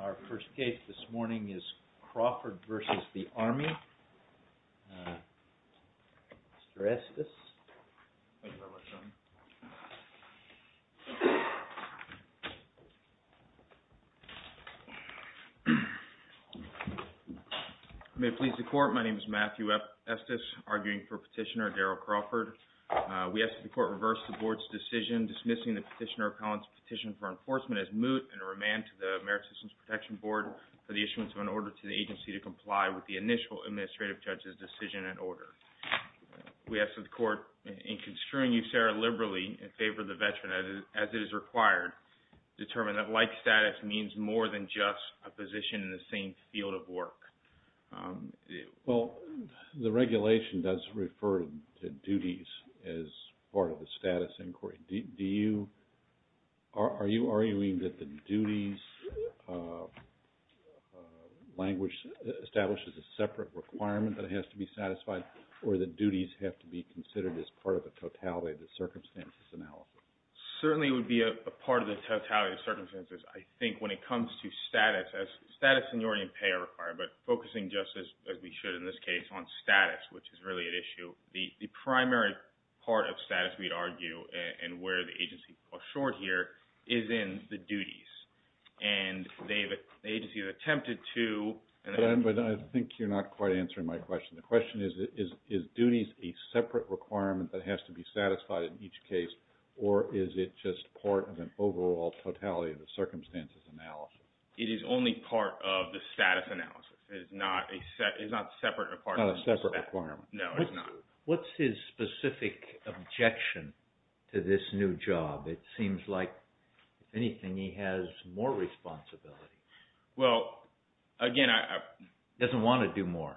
Our first case this morning is CRAWFORD v. ARMY. Mr. Estes. May it please the Court, my name is Matthew Estes, arguing for Petitioner Daryl Crawford. We ask that the Court reverse the Board's decision dismissing the Petitioner Collins' petition for enforcement as moot and remand to the Merit Systems Protection Board for the issuance of an order to the agency to comply with the initial Administrative Judge's decision and order. We ask that the Court, in construing you, Sarah, liberally in favor of the veteran as it is required, determine that like status means more than just a position in the same field of work. Well, the regulation does refer to duties as part of the status inquiry. Are you arguing that the duties language establishes a separate requirement that has to be satisfied, or that duties have to be considered as part of a totality of the circumstances analysis? Certainly it would be a part of the totality of circumstances. I think when it comes to status, as status and union pay are required, but focusing just as we should in this case on status, which is really at issue, the primary part of status, we'd argue, and where the agency falls short here, is in the duties. And the agency has attempted to... But I think you're not quite answering my question. The question is, is duties a separate requirement that has to be satisfied in each case, or is it just part of an overall totality of the circumstances analysis? It is only part of the status analysis. It is not separate or part of the status. Not a separate requirement. No, it's not. What's his specific objection to this new job? It seems like, if anything, he has more responsibility. Well, again, I... He doesn't want to do more.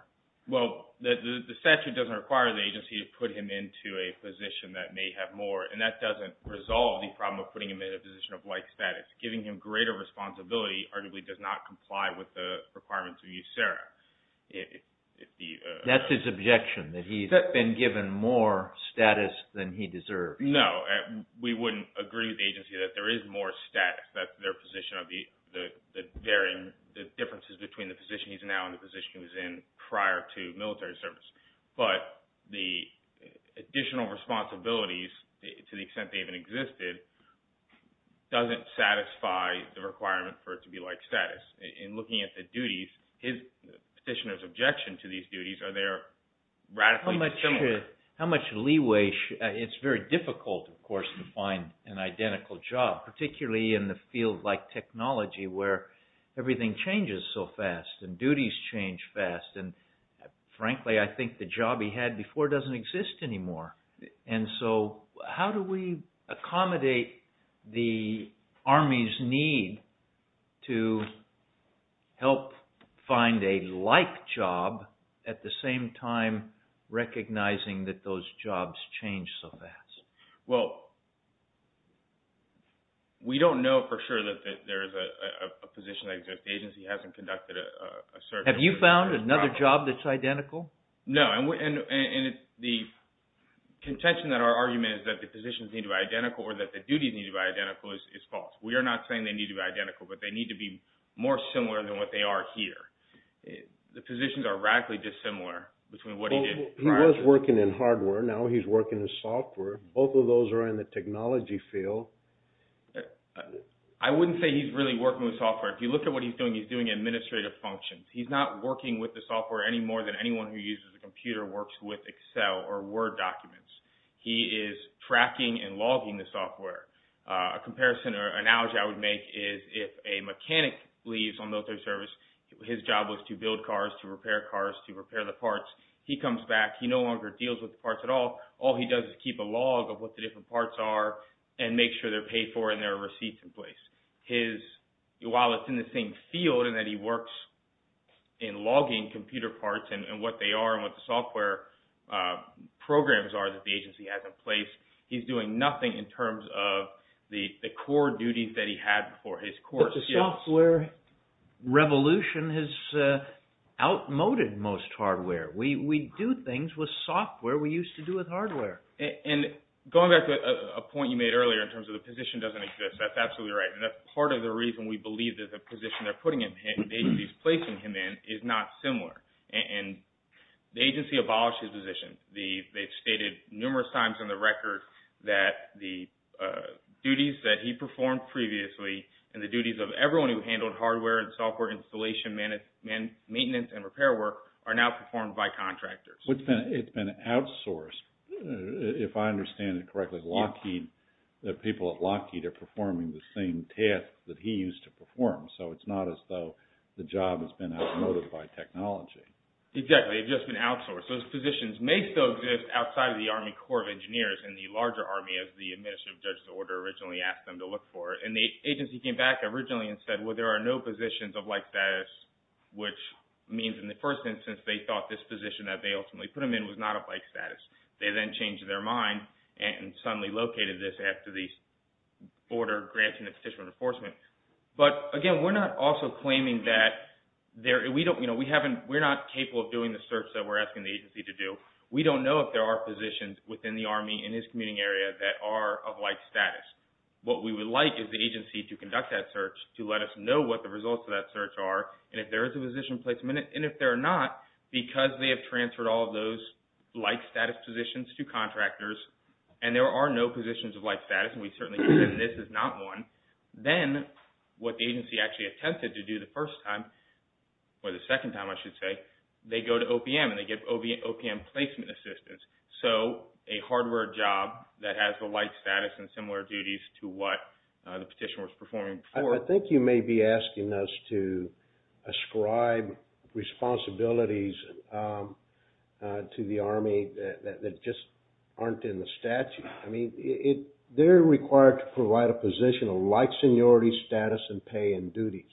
Well, the statute doesn't require the agency to put him into a position that may have more, and that doesn't resolve the problem of putting him in a position of like status. Giving him greater responsibility arguably does not comply with the requirements of USERRA. That's his objection, that he's been given more status than he deserves. No, we wouldn't agree with the agency that there is more status, that their position of the differences between the position he's in now and the position he was in prior to military service. But the additional responsibilities, to the extent they even existed, doesn't satisfy the requirement for it to be like status. In looking at the duties, the petitioner's objection to these duties, are they radically dissimilar? How much leeway... It's very difficult, of course, to find an identical job, particularly in the field like technology where everything changes so fast and duties change fast. Frankly, I think the job he had before doesn't exist anymore. How do we accommodate the Army's need to help find a like job at the same time recognizing that those jobs change so fast? Well, we don't know for sure that there is a position that exists. The agency hasn't conducted a search... Have you found another job that's identical? No, and the contention that our argument is that the positions need to be identical or that the duties need to be identical is false. We are not saying they need to be identical, but they need to be more similar than what they are here. The positions are radically dissimilar between what he did prior... He was working in hardware, now he's working in software. Both of those are in the technology field. I wouldn't say he's really working with software. If you look at what he's doing, he's doing administrative functions. He's not working with the software any more than anyone who uses a computer works with Excel or Word documents. He is tracking and logging the software. A comparison or analogy I would make is if a mechanic leaves on military service, his job was to build cars, to repair cars, to repair the parts. He comes back, he no longer deals with the parts at all. All he does is keep a log of what the different parts are and make sure they're paid for and there are receipts in place. While it's in the same field and that he works in logging computer parts and what they are and what the software programs are that the agency has in place, he's doing nothing in terms of the core duties that he had before. The software revolution has outmoded most hardware. We do things with software we used to do with hardware. Going back to a point you made earlier in terms of the position doesn't exist. That's absolutely right. That's part of the reason we believe that the position they're putting him in, the agency's placing him in, is not similar. The agency abolished his position. They've stated numerous times in the record that the duties that he performed previously and the duties of everyone who handled hardware and software installation, maintenance, and repair work are now performed by contractors. It's been outsourced, if I understand it correctly, because the people at Lockheed are performing the same tasks that he used to perform, so it's not as though the job has been outmoded by technology. Exactly. It's just been outsourced. Those positions may still exist outside of the Army Corps of Engineers and the larger Army as the administrative judge's order originally asked them to look for. The agency came back originally and said, well, there are no positions of like status, which means in the first instance they thought this position that they ultimately put him in was not of like status. They then changed their mind and suddenly located this after the order granting the petitioner enforcement. But, again, we're not also claiming that we're not capable of doing the search that we're asking the agency to do. We don't know if there are positions within the Army in his commuting area that are of like status. What we would like is the agency to conduct that search to let us know what the results of that search are and if there is a position placement, and if there are not, because they have transferred all of those like status positions to contractors and there are no positions of like status, and we certainly believe this is not one, then what the agency actually attempted to do the first time, or the second time I should say, they go to OPM and they get OPM placement assistance. So a hardware job that has the like status and similar duties to what the petitioner was performing before. So I think you may be asking us to ascribe responsibilities to the Army that just aren't in the statute. I mean, they're required to provide a position of like seniority, status, and pay and duties.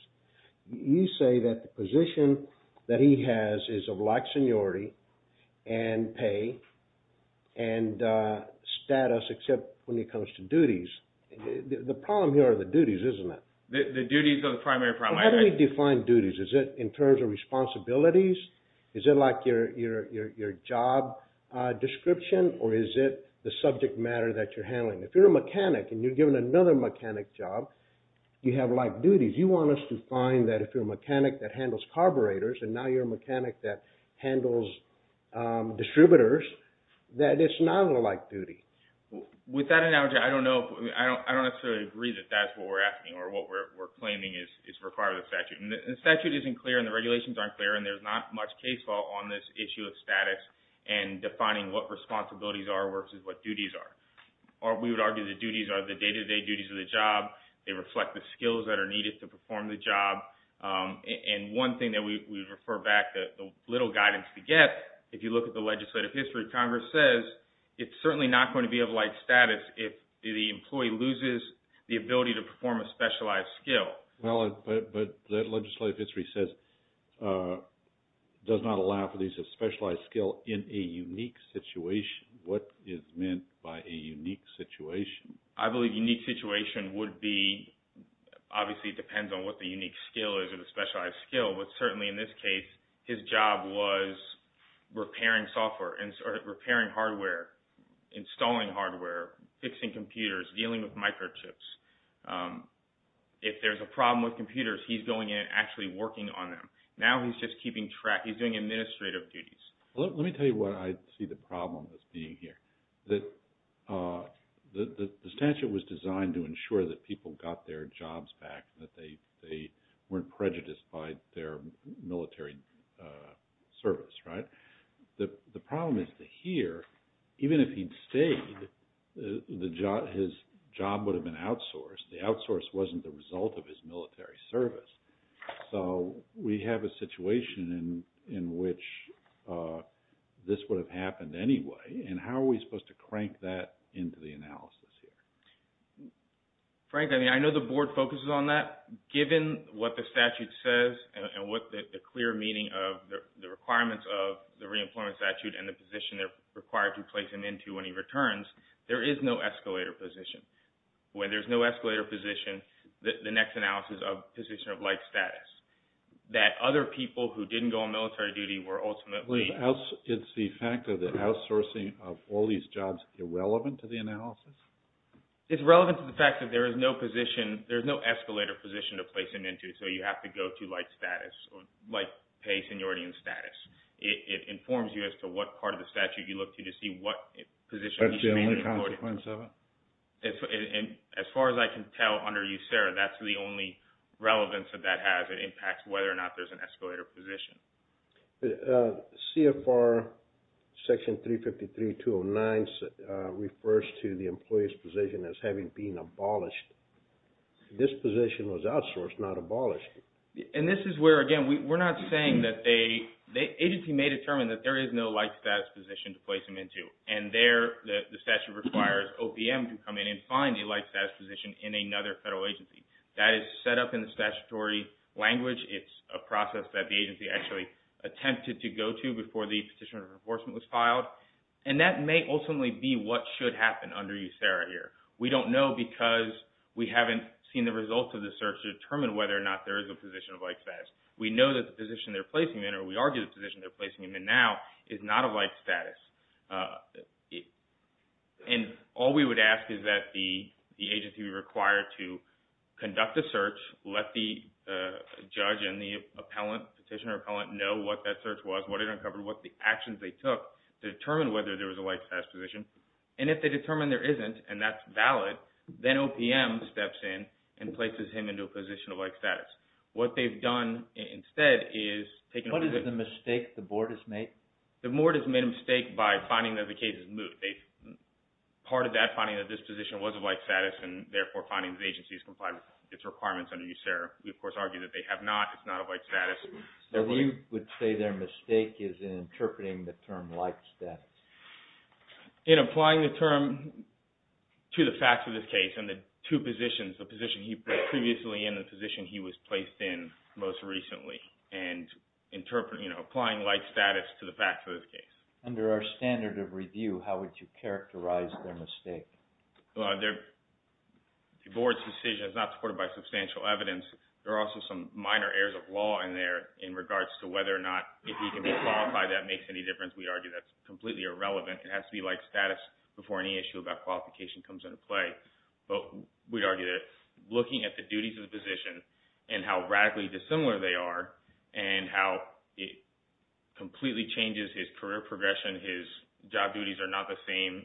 You say that the position that he has is of like seniority and pay and status, except when it comes to duties. The problem here are the duties, isn't it? The duties are the primary problem. How do we define duties? Is it in terms of responsibilities? Is it like your job description? Or is it the subject matter that you're handling? If you're a mechanic and you're given another mechanic job, you have like duties. You want us to find that if you're a mechanic that handles carburetors and now you're a mechanic that handles distributors, that it's not a like duty. With that analogy, I don't necessarily agree that that's what we're asking or what we're claiming is required of the statute. The statute isn't clear and the regulations aren't clear, and there's not much case law on this issue of status and defining what responsibilities are versus what duties are. We would argue the duties are the day-to-day duties of the job. They reflect the skills that are needed to perform the job. And one thing that we refer back to the little guidance to get, if you look at the legislative history, Congress says it's certainly not going to be of like status if the employee loses the ability to perform a specialized skill. But the legislative history says it does not allow for the use of specialized skill in a unique situation. What is meant by a unique situation? I believe unique situation would be, obviously it depends on what the unique skill is of the specialized skill, but certainly in this case, his job was repairing software or repairing hardware, installing hardware, fixing computers, dealing with microchips. If there's a problem with computers, he's going in and actually working on them. Now he's just keeping track. He's doing administrative duties. Let me tell you why I see the problem as being here. The statute was designed to ensure that people got their jobs back and that they weren't prejudiced by their military service, right? The problem is that here, even if he'd stayed, his job would have been outsourced. The outsource wasn't the result of his military service. So we have a situation in which this would have happened anyway, and how are we supposed to crank that into the analysis here? Frank, I know the Board focuses on that. Given what the statute says and what the clear meaning of the requirements of the re-employment statute and the position they're required to place him into when he returns, there is no escalator position. When there's no escalator position, the next analysis is a position of like status, that other people who didn't go on military duty were ultimately... It's the fact of the outsourcing of all these jobs irrelevant to the analysis? It's relevant to the fact that there is no escalator position to place him into, so you have to go to like status, like pay seniority and status. It informs you as to what part of the statute you look to to see what position he's being employed in. That's the only consequence of it? As far as I can tell under USERRA, that's the only relevance that that has. It impacts whether or not there's an escalator position. CFR section 353.209 refers to the employee's position as having been abolished. This position was outsourced, not abolished. And this is where, again, we're not saying that they... the agency may determine that there is no like status position to place him into, and there the statute requires OPM to come in and find a like status position in another federal agency. That is set up in the statutory language. It's a process that the agency actually attempted to go to before the petition of enforcement was filed, and that may ultimately be what should happen under USERRA here. We don't know because we haven't seen the results of the search to determine whether or not there is a position of like status. We know that the position they're placing him in, or we argue the position they're placing him in now, is not a like status. And all we would ask is that the agency be required to conduct a search, let the judge and the appellant, petitioner or appellant, know what that search was, what it uncovered, what the actions they took to determine whether there was a like status position. And if they determine there isn't, and that's valid, then OPM steps in and places him into a position of like status. What they've done instead is taken over... What is the mistake the board has made? The board has made a mistake by finding that the case is moot. Part of that finding that this position was a like status and therefore finding that the agency is complying with its requirements under USERRA. We, of course, argue that they have not. It's not a like status. So you would say their mistake is in interpreting the term like status. In applying the term to the facts of this case and the two positions, the position he was previously in and the position he was placed in most recently, and applying like status to the facts of this case. Under our standard of review, how would you characterize their mistake? The board's decision is not supported by substantial evidence. There are also some minor errors of law in there in regards to whether or not, if he can be qualified, that makes any difference. We argue that's completely irrelevant. It has to be like status before any issue about qualification comes into play. But we argue that looking at the duties of the position and how radically dissimilar they are and how it completely changes his career progression. His job duties are not the same.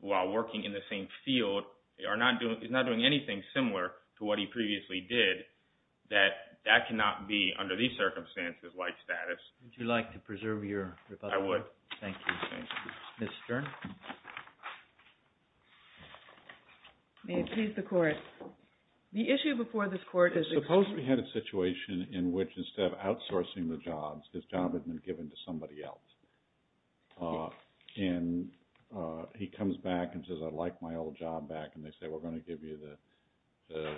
While working in the same field, he's not doing anything similar to what he previously did. That cannot be, under these circumstances, like status. Would you like to preserve your rebuttal? I would. Thank you. Ms. Stern? May it please the Court. The issue before this Court is... Suppose we had a situation in which instead of outsourcing the jobs, his job had been given to somebody else. He comes back and says, I'd like my old job back. And they say, we're going to give you the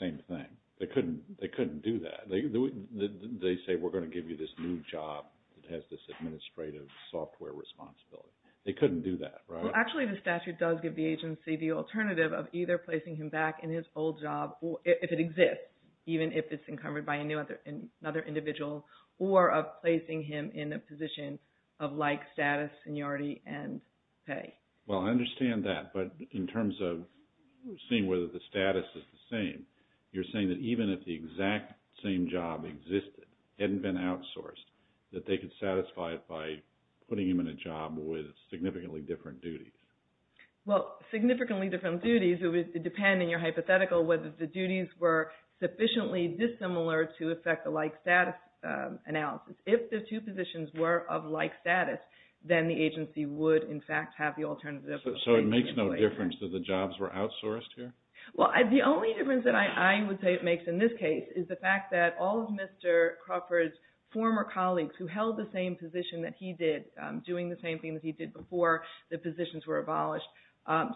same thing. They couldn't do that. They say, we're going to give you this new job that has this administrative software responsibility. They couldn't do that, right? Actually, the statute does give the agency the alternative of either placing him back in his old job, if it exists, even if it's encumbered by another individual, or of placing him in a position of like status, seniority, and pay. Well, I understand that. But in terms of seeing whether the status is the same, you're saying that even if the exact same job existed, hadn't been outsourced, that they could satisfy it by putting him in a job with significantly different duties? Well, significantly different duties would depend, in your hypothetical, whether the duties were sufficiently dissimilar to affect the like status analysis. If the two positions were of like status, then the agency would, in fact, have the alternative. So it makes no difference that the jobs were outsourced here? Well, the only difference that I would say it makes in this case is the fact that all of Mr. Crawford's former colleagues who held the same position that he did, doing the same thing that he did before the positions were abolished,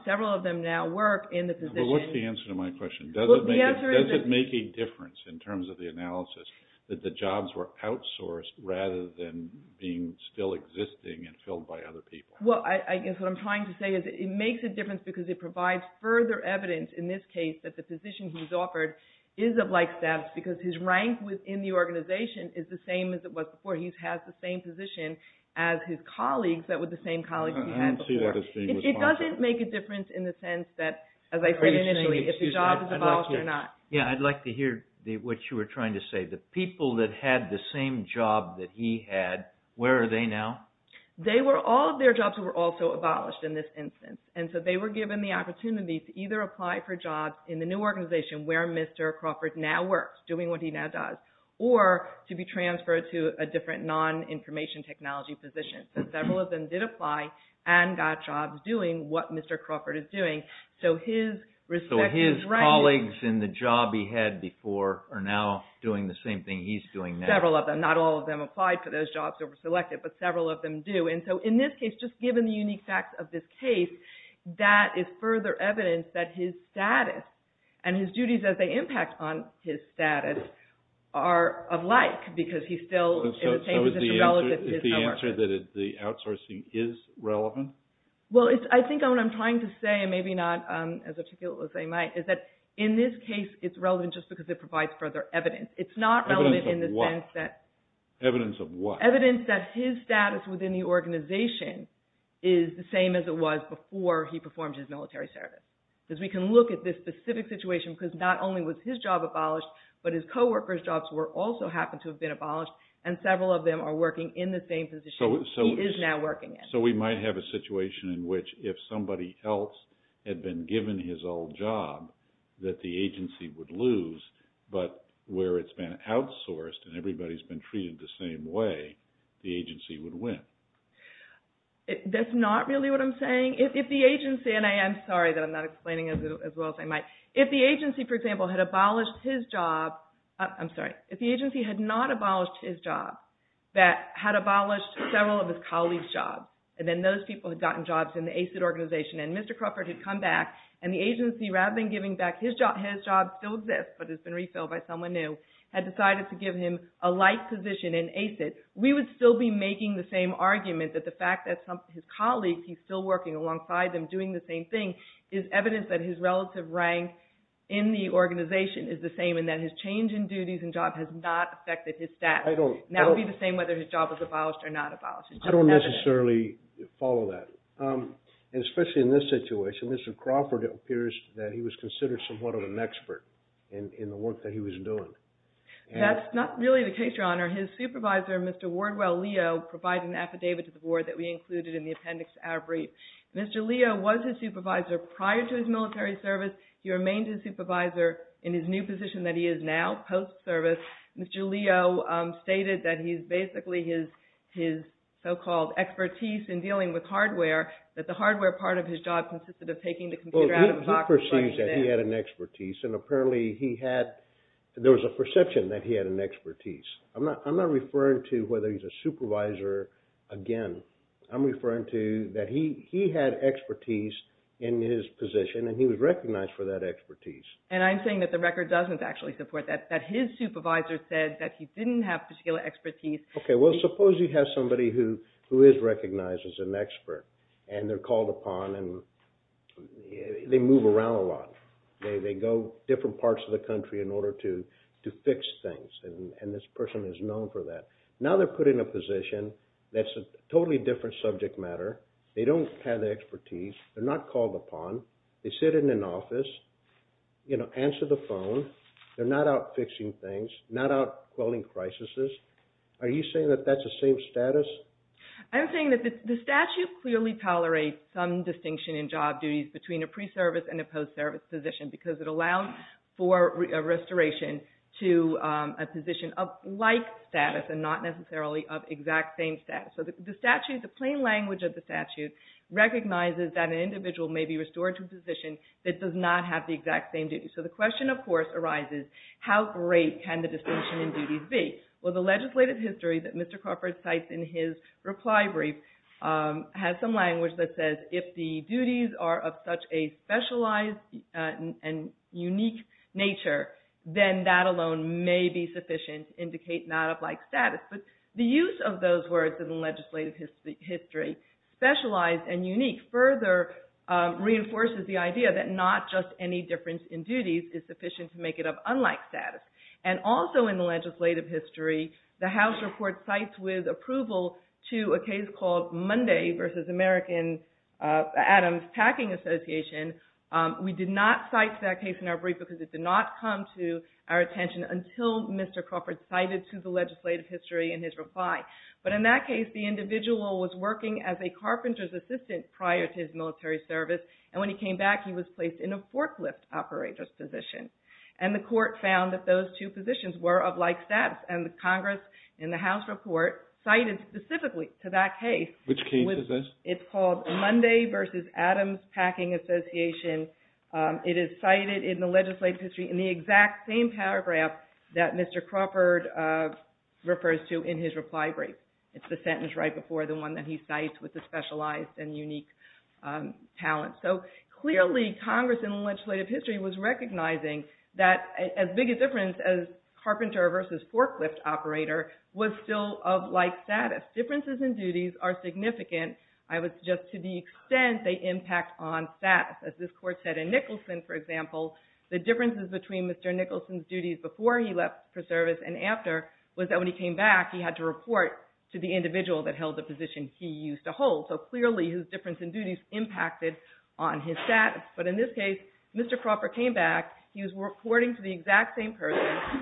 several of them now work in the position. Well, what's the answer to my question? Does it make a difference in terms of the analysis that the jobs were outsourced rather than being still existing and filled by other people? Well, I guess what I'm trying to say is it makes a difference because it provides further evidence, in this case, that the position he was offered is of like status because his rank within the organization is the same as it was before. He has the same position as his colleagues that were the same colleagues he had before. I don't see that as being responsible. It doesn't make a difference in the sense that, as I said initially, if the job is abolished or not. Yeah, I'd like to hear what you were trying to say. The people that had the same job that he had, where are they now? All of their jobs were also abolished in this instance, and so they were given the opportunity to either apply for jobs in the new organization where Mr. Crawford now works, doing what he now does, or to be transferred to a different non-information technology position. Several of them did apply and got jobs doing what Mr. Crawford is doing. So his colleagues in the job he had before are now doing the same thing he's doing now. Several of them. Not all of them applied for those jobs or were selected, but several of them do. And so in this case, just given the unique facts of this case, that is further evidence that his status and his duties as they impact on his status are alike because he's still in the same position relative to his coworkers. So is the answer that the outsourcing is relevant? Well, I think what I'm trying to say, and maybe not as articulate as I might, is that in this case it's relevant just because it provides further evidence. Evidence of what? Evidence that his status within the organization is the same as it was before he performed his military service. Because we can look at this specific situation because not only was his job abolished, but his coworkers' jobs also happened to have been abolished, and several of them are working in the same position he is now working in. So we might have a situation in which if somebody else had been given his old job, that the agency would lose, but where it's been outsourced and everybody's been treated the same way, the agency would win. That's not really what I'm saying. If the agency, and I am sorry that I'm not explaining as well as I might. If the agency, for example, had abolished his job, I'm sorry. And then those people had gotten jobs in the ACID organization. And Mr. Crawford had come back, and the agency, rather than giving back his job, his job still exists, but it's been refilled by someone new, had decided to give him a light position in ACID. We would still be making the same argument that the fact that his colleagues, he's still working alongside them doing the same thing, is evidence that his relative rank in the organization is the same and that his change in duties and job has not affected his status. That would be the same whether his job was abolished or not abolished. I don't necessarily follow that. And especially in this situation, Mr. Crawford appears that he was considered somewhat of an expert in the work that he was doing. That's not really the case, Your Honor. His supervisor, Mr. Wardwell Leo, provided an affidavit to the board that we included in the appendix to our brief. Mr. Leo was his supervisor prior to his military service. He remained his supervisor in his new position that he is now, post-service. Mr. Leo stated that he's basically his so-called expertise in dealing with hardware, that the hardware part of his job consisted of taking the computer out of the box. Well, he perceived that he had an expertise, and apparently he had, there was a perception that he had an expertise. I'm not referring to whether he's a supervisor again. I'm referring to that he had expertise in his position, and he was recognized for that expertise. And I'm saying that the record doesn't actually support that, that his supervisor said that he didn't have particular expertise. Okay, well, suppose you have somebody who is recognized as an expert, and they're called upon, and they move around a lot. They go different parts of the country in order to fix things, and this person is known for that. Now they're put in a position that's a totally different subject matter. They don't have the expertise. They're not called upon. They sit in an office, answer the phone. They're not out fixing things, not out quelling crises. Are you saying that that's the same status? I'm saying that the statute clearly tolerates some distinction in job duties between a pre-service and a post-service position because it allows for a restoration to a position of like status and not necessarily of exact same status. So the statute, the plain language of the statute, recognizes that an individual may be restored to a position that does not have the exact same duties. So the question, of course, arises, how great can the distinction in duties be? Well, the legislative history that Mr. Crawford cites in his reply brief has some language that says, if the duties are of such a specialized and unique nature, then that alone may be sufficient to indicate not of like status. But the use of those words in the legislative history, specialized and unique, further reinforces the idea that not just any difference in duties is sufficient to make it of unlike status. And also in the legislative history, the House report cites with approval to a case called Monday v. American Adams Packing Association. We did not cite that case in our brief because it did not come to our attention until Mr. Crawford cited to the legislative history in his reply. But in that case, the individual was working as a carpenter's assistant prior to his military service. And when he came back, he was placed in a forklift operator's position. And the court found that those two positions were of like status. And the Congress in the House report cited specifically to that case. Which case is this? It's called Monday v. Adams Packing Association. It is cited in the legislative history in the exact same paragraph that Mr. Crawford refers to in his reply brief. It's the sentence right before the one that he cites with the specialized and unique talent. So clearly, Congress in the legislative history was recognizing that as big a difference as carpenter versus forklift operator was still of like status. Differences in duties are significant. I would suggest to the extent they impact on status. As this court said in Nicholson, for example, the differences between Mr. Nicholson's duties before he left for service and after was that when he came back, he had to report to the individual that held the position he used to hold. So clearly, his difference in duties impacted on his status. But in this case, Mr. Crawford came back. He was reporting to the exact same person.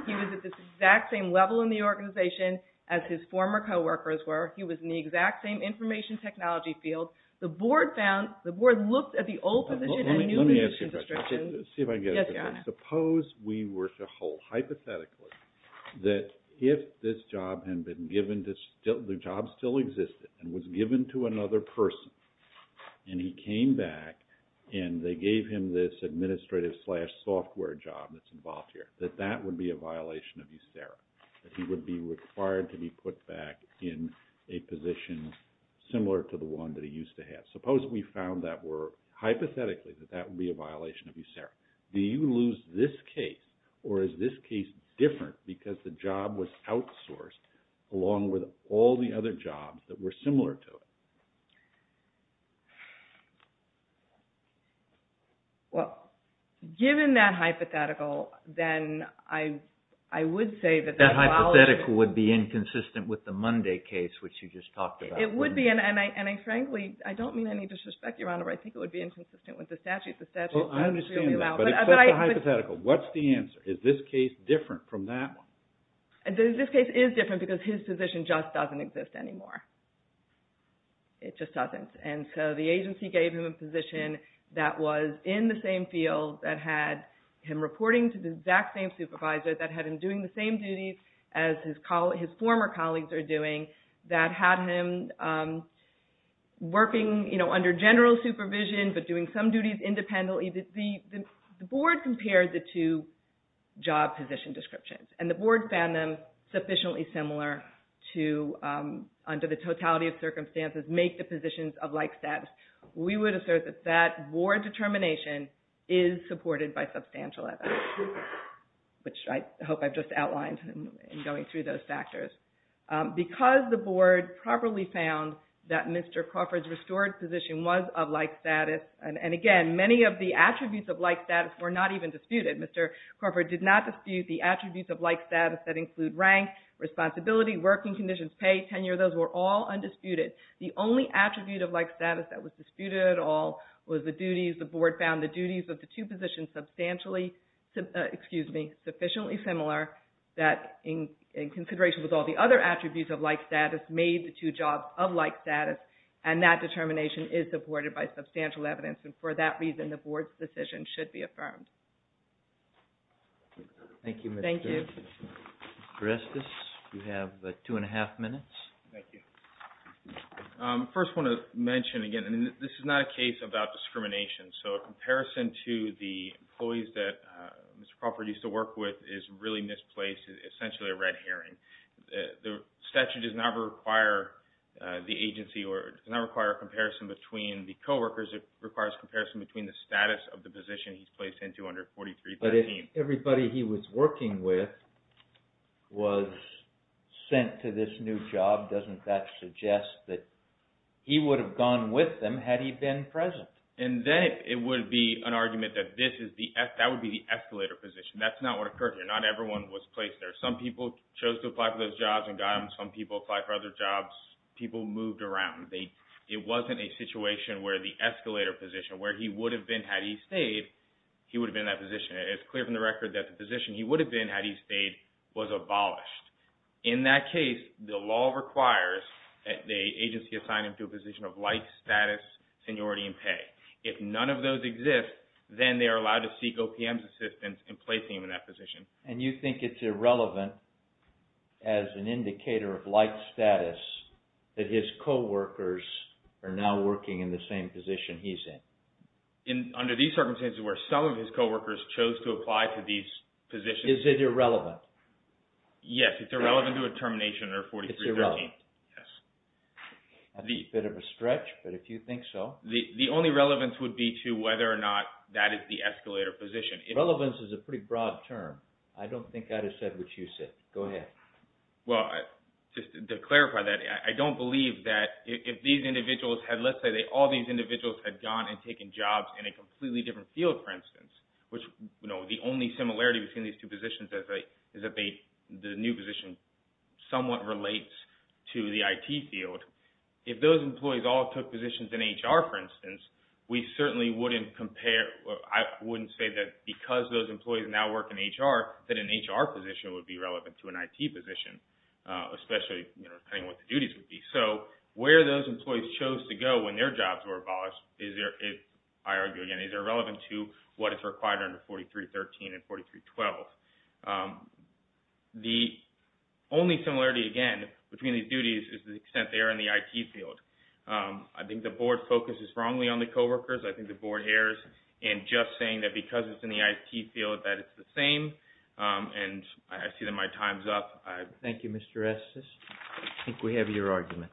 He was at the exact same level in the organization as his former coworkers were. He was in the exact same information technology field. The board found, the board looked at the old position and new position description. Let me ask you a question. Yes, Your Honor. Suppose we were to hold hypothetically that if this job had been given, the job still existed and was given to another person and he came back and they gave him this administrative slash software job that's involved here, that that would be a violation of USERRA. That he would be required to be put back in a position similar to the one that he used to have. Suppose we found that were, hypothetically, that that would be a violation of USERRA. Do you lose this case or is this case different because the job was outsourced along with all the other jobs that were similar to it? Well, given that hypothetical, then I would say that that violation... That hypothetical would be inconsistent with the Monday case, which you just talked about. It would be. And I frankly, I don't mean any disrespect, Your Honor, but I think it would be inconsistent with the statute. The statute is really loud. Well, I understand that. But it's just a hypothetical. What's the answer? Is this case different from that one? This case is different because his position just doesn't exist anymore. It just doesn't. And so the agency gave him a position that was in the same field that had him reporting to the exact same supervisor that had him doing the same duties as his former colleagues are doing that had him working under general supervision but doing some duties independently. The board compared the two job position descriptions, and the board found them sufficiently similar to, under the totality of circumstances, make the positions of like status. We would assert that that board determination is supported by substantial evidence, which I hope I've just outlined in going through those factors. Because the board properly found that Mr. Crawford's restored position was of like status, and again, many of the attributes of like status were not even disputed. Mr. Crawford did not dispute the attributes of like status that include rank, responsibility, working conditions, pay, tenure. Those were all undisputed. The only attribute of like status that was disputed at all was the duties. The board found the duties of the two positions substantially, excuse me, sufficiently similar that, in consideration with all the other attributes of like status, made the two jobs of like status, and that determination is supported by substantial evidence. And for that reason, the board's decision should be affirmed. Thank you, Ms. Durst. Thank you. Dr. Estes, you have two and a half minutes. Thank you. First, I want to mention again, and this is not a case about discrimination. So a comparison to the employees that Mr. Crawford used to work with is really misplaced, essentially a red herring. The statute does not require the agency or does not require a comparison between the coworkers. It requires a comparison between the status of the position he's placed into under 4313. But if everybody he was working with was sent to this new job, doesn't that suggest that he would have gone with them had he been present? And then it would be an argument that that would be the escalator position. That's not what occurred here. Not everyone was placed there. Some people chose to apply for those jobs and got them. Some people applied for other jobs. People moved around. It wasn't a situation where the escalator position, where he would have been had he stayed, he would have been in that position. It's clear from the record that the position he would have been had he stayed was abolished. In that case, the law requires that the agency assign him to a position of life status, seniority, and pay. If none of those exist, then they are allowed to seek OPM's assistance in placing him in that position. And you think it's irrelevant as an indicator of life status that his coworkers are now working in the same position he's in? Under these circumstances where some of his coworkers chose to apply for these positions. Is it irrelevant? Yes. It's irrelevant to a termination or 4313. It's irrelevant. Yes. That's a bit of a stretch, but if you think so. The only relevance would be to whether or not that is the escalator position. Relevance is a pretty broad term. I don't think I'd have said what you said. Go ahead. Well, just to clarify that, I don't believe that if these individuals had, let's say all these individuals had gone and taken jobs in a completely different field, for instance, which the only similarity between these two positions is that the new position somewhat relates to the IT field. If those employees all took positions in HR, for instance, we certainly wouldn't compare. I wouldn't say that because those employees now work in HR that an HR position would be relevant to an IT position, especially depending on what the duties would be. So where those employees chose to go when their jobs were abolished is, I argue again, is irrelevant to what is required under 4313 and 4312. The only similarity, again, between these duties is the extent they are in the IT field. I think the board focuses wrongly on the coworkers. I think the board errs in just saying that because it's in the IT field that it's the same, and I see that my time's up. Thank you, Mr. Estes. I think we have your argument.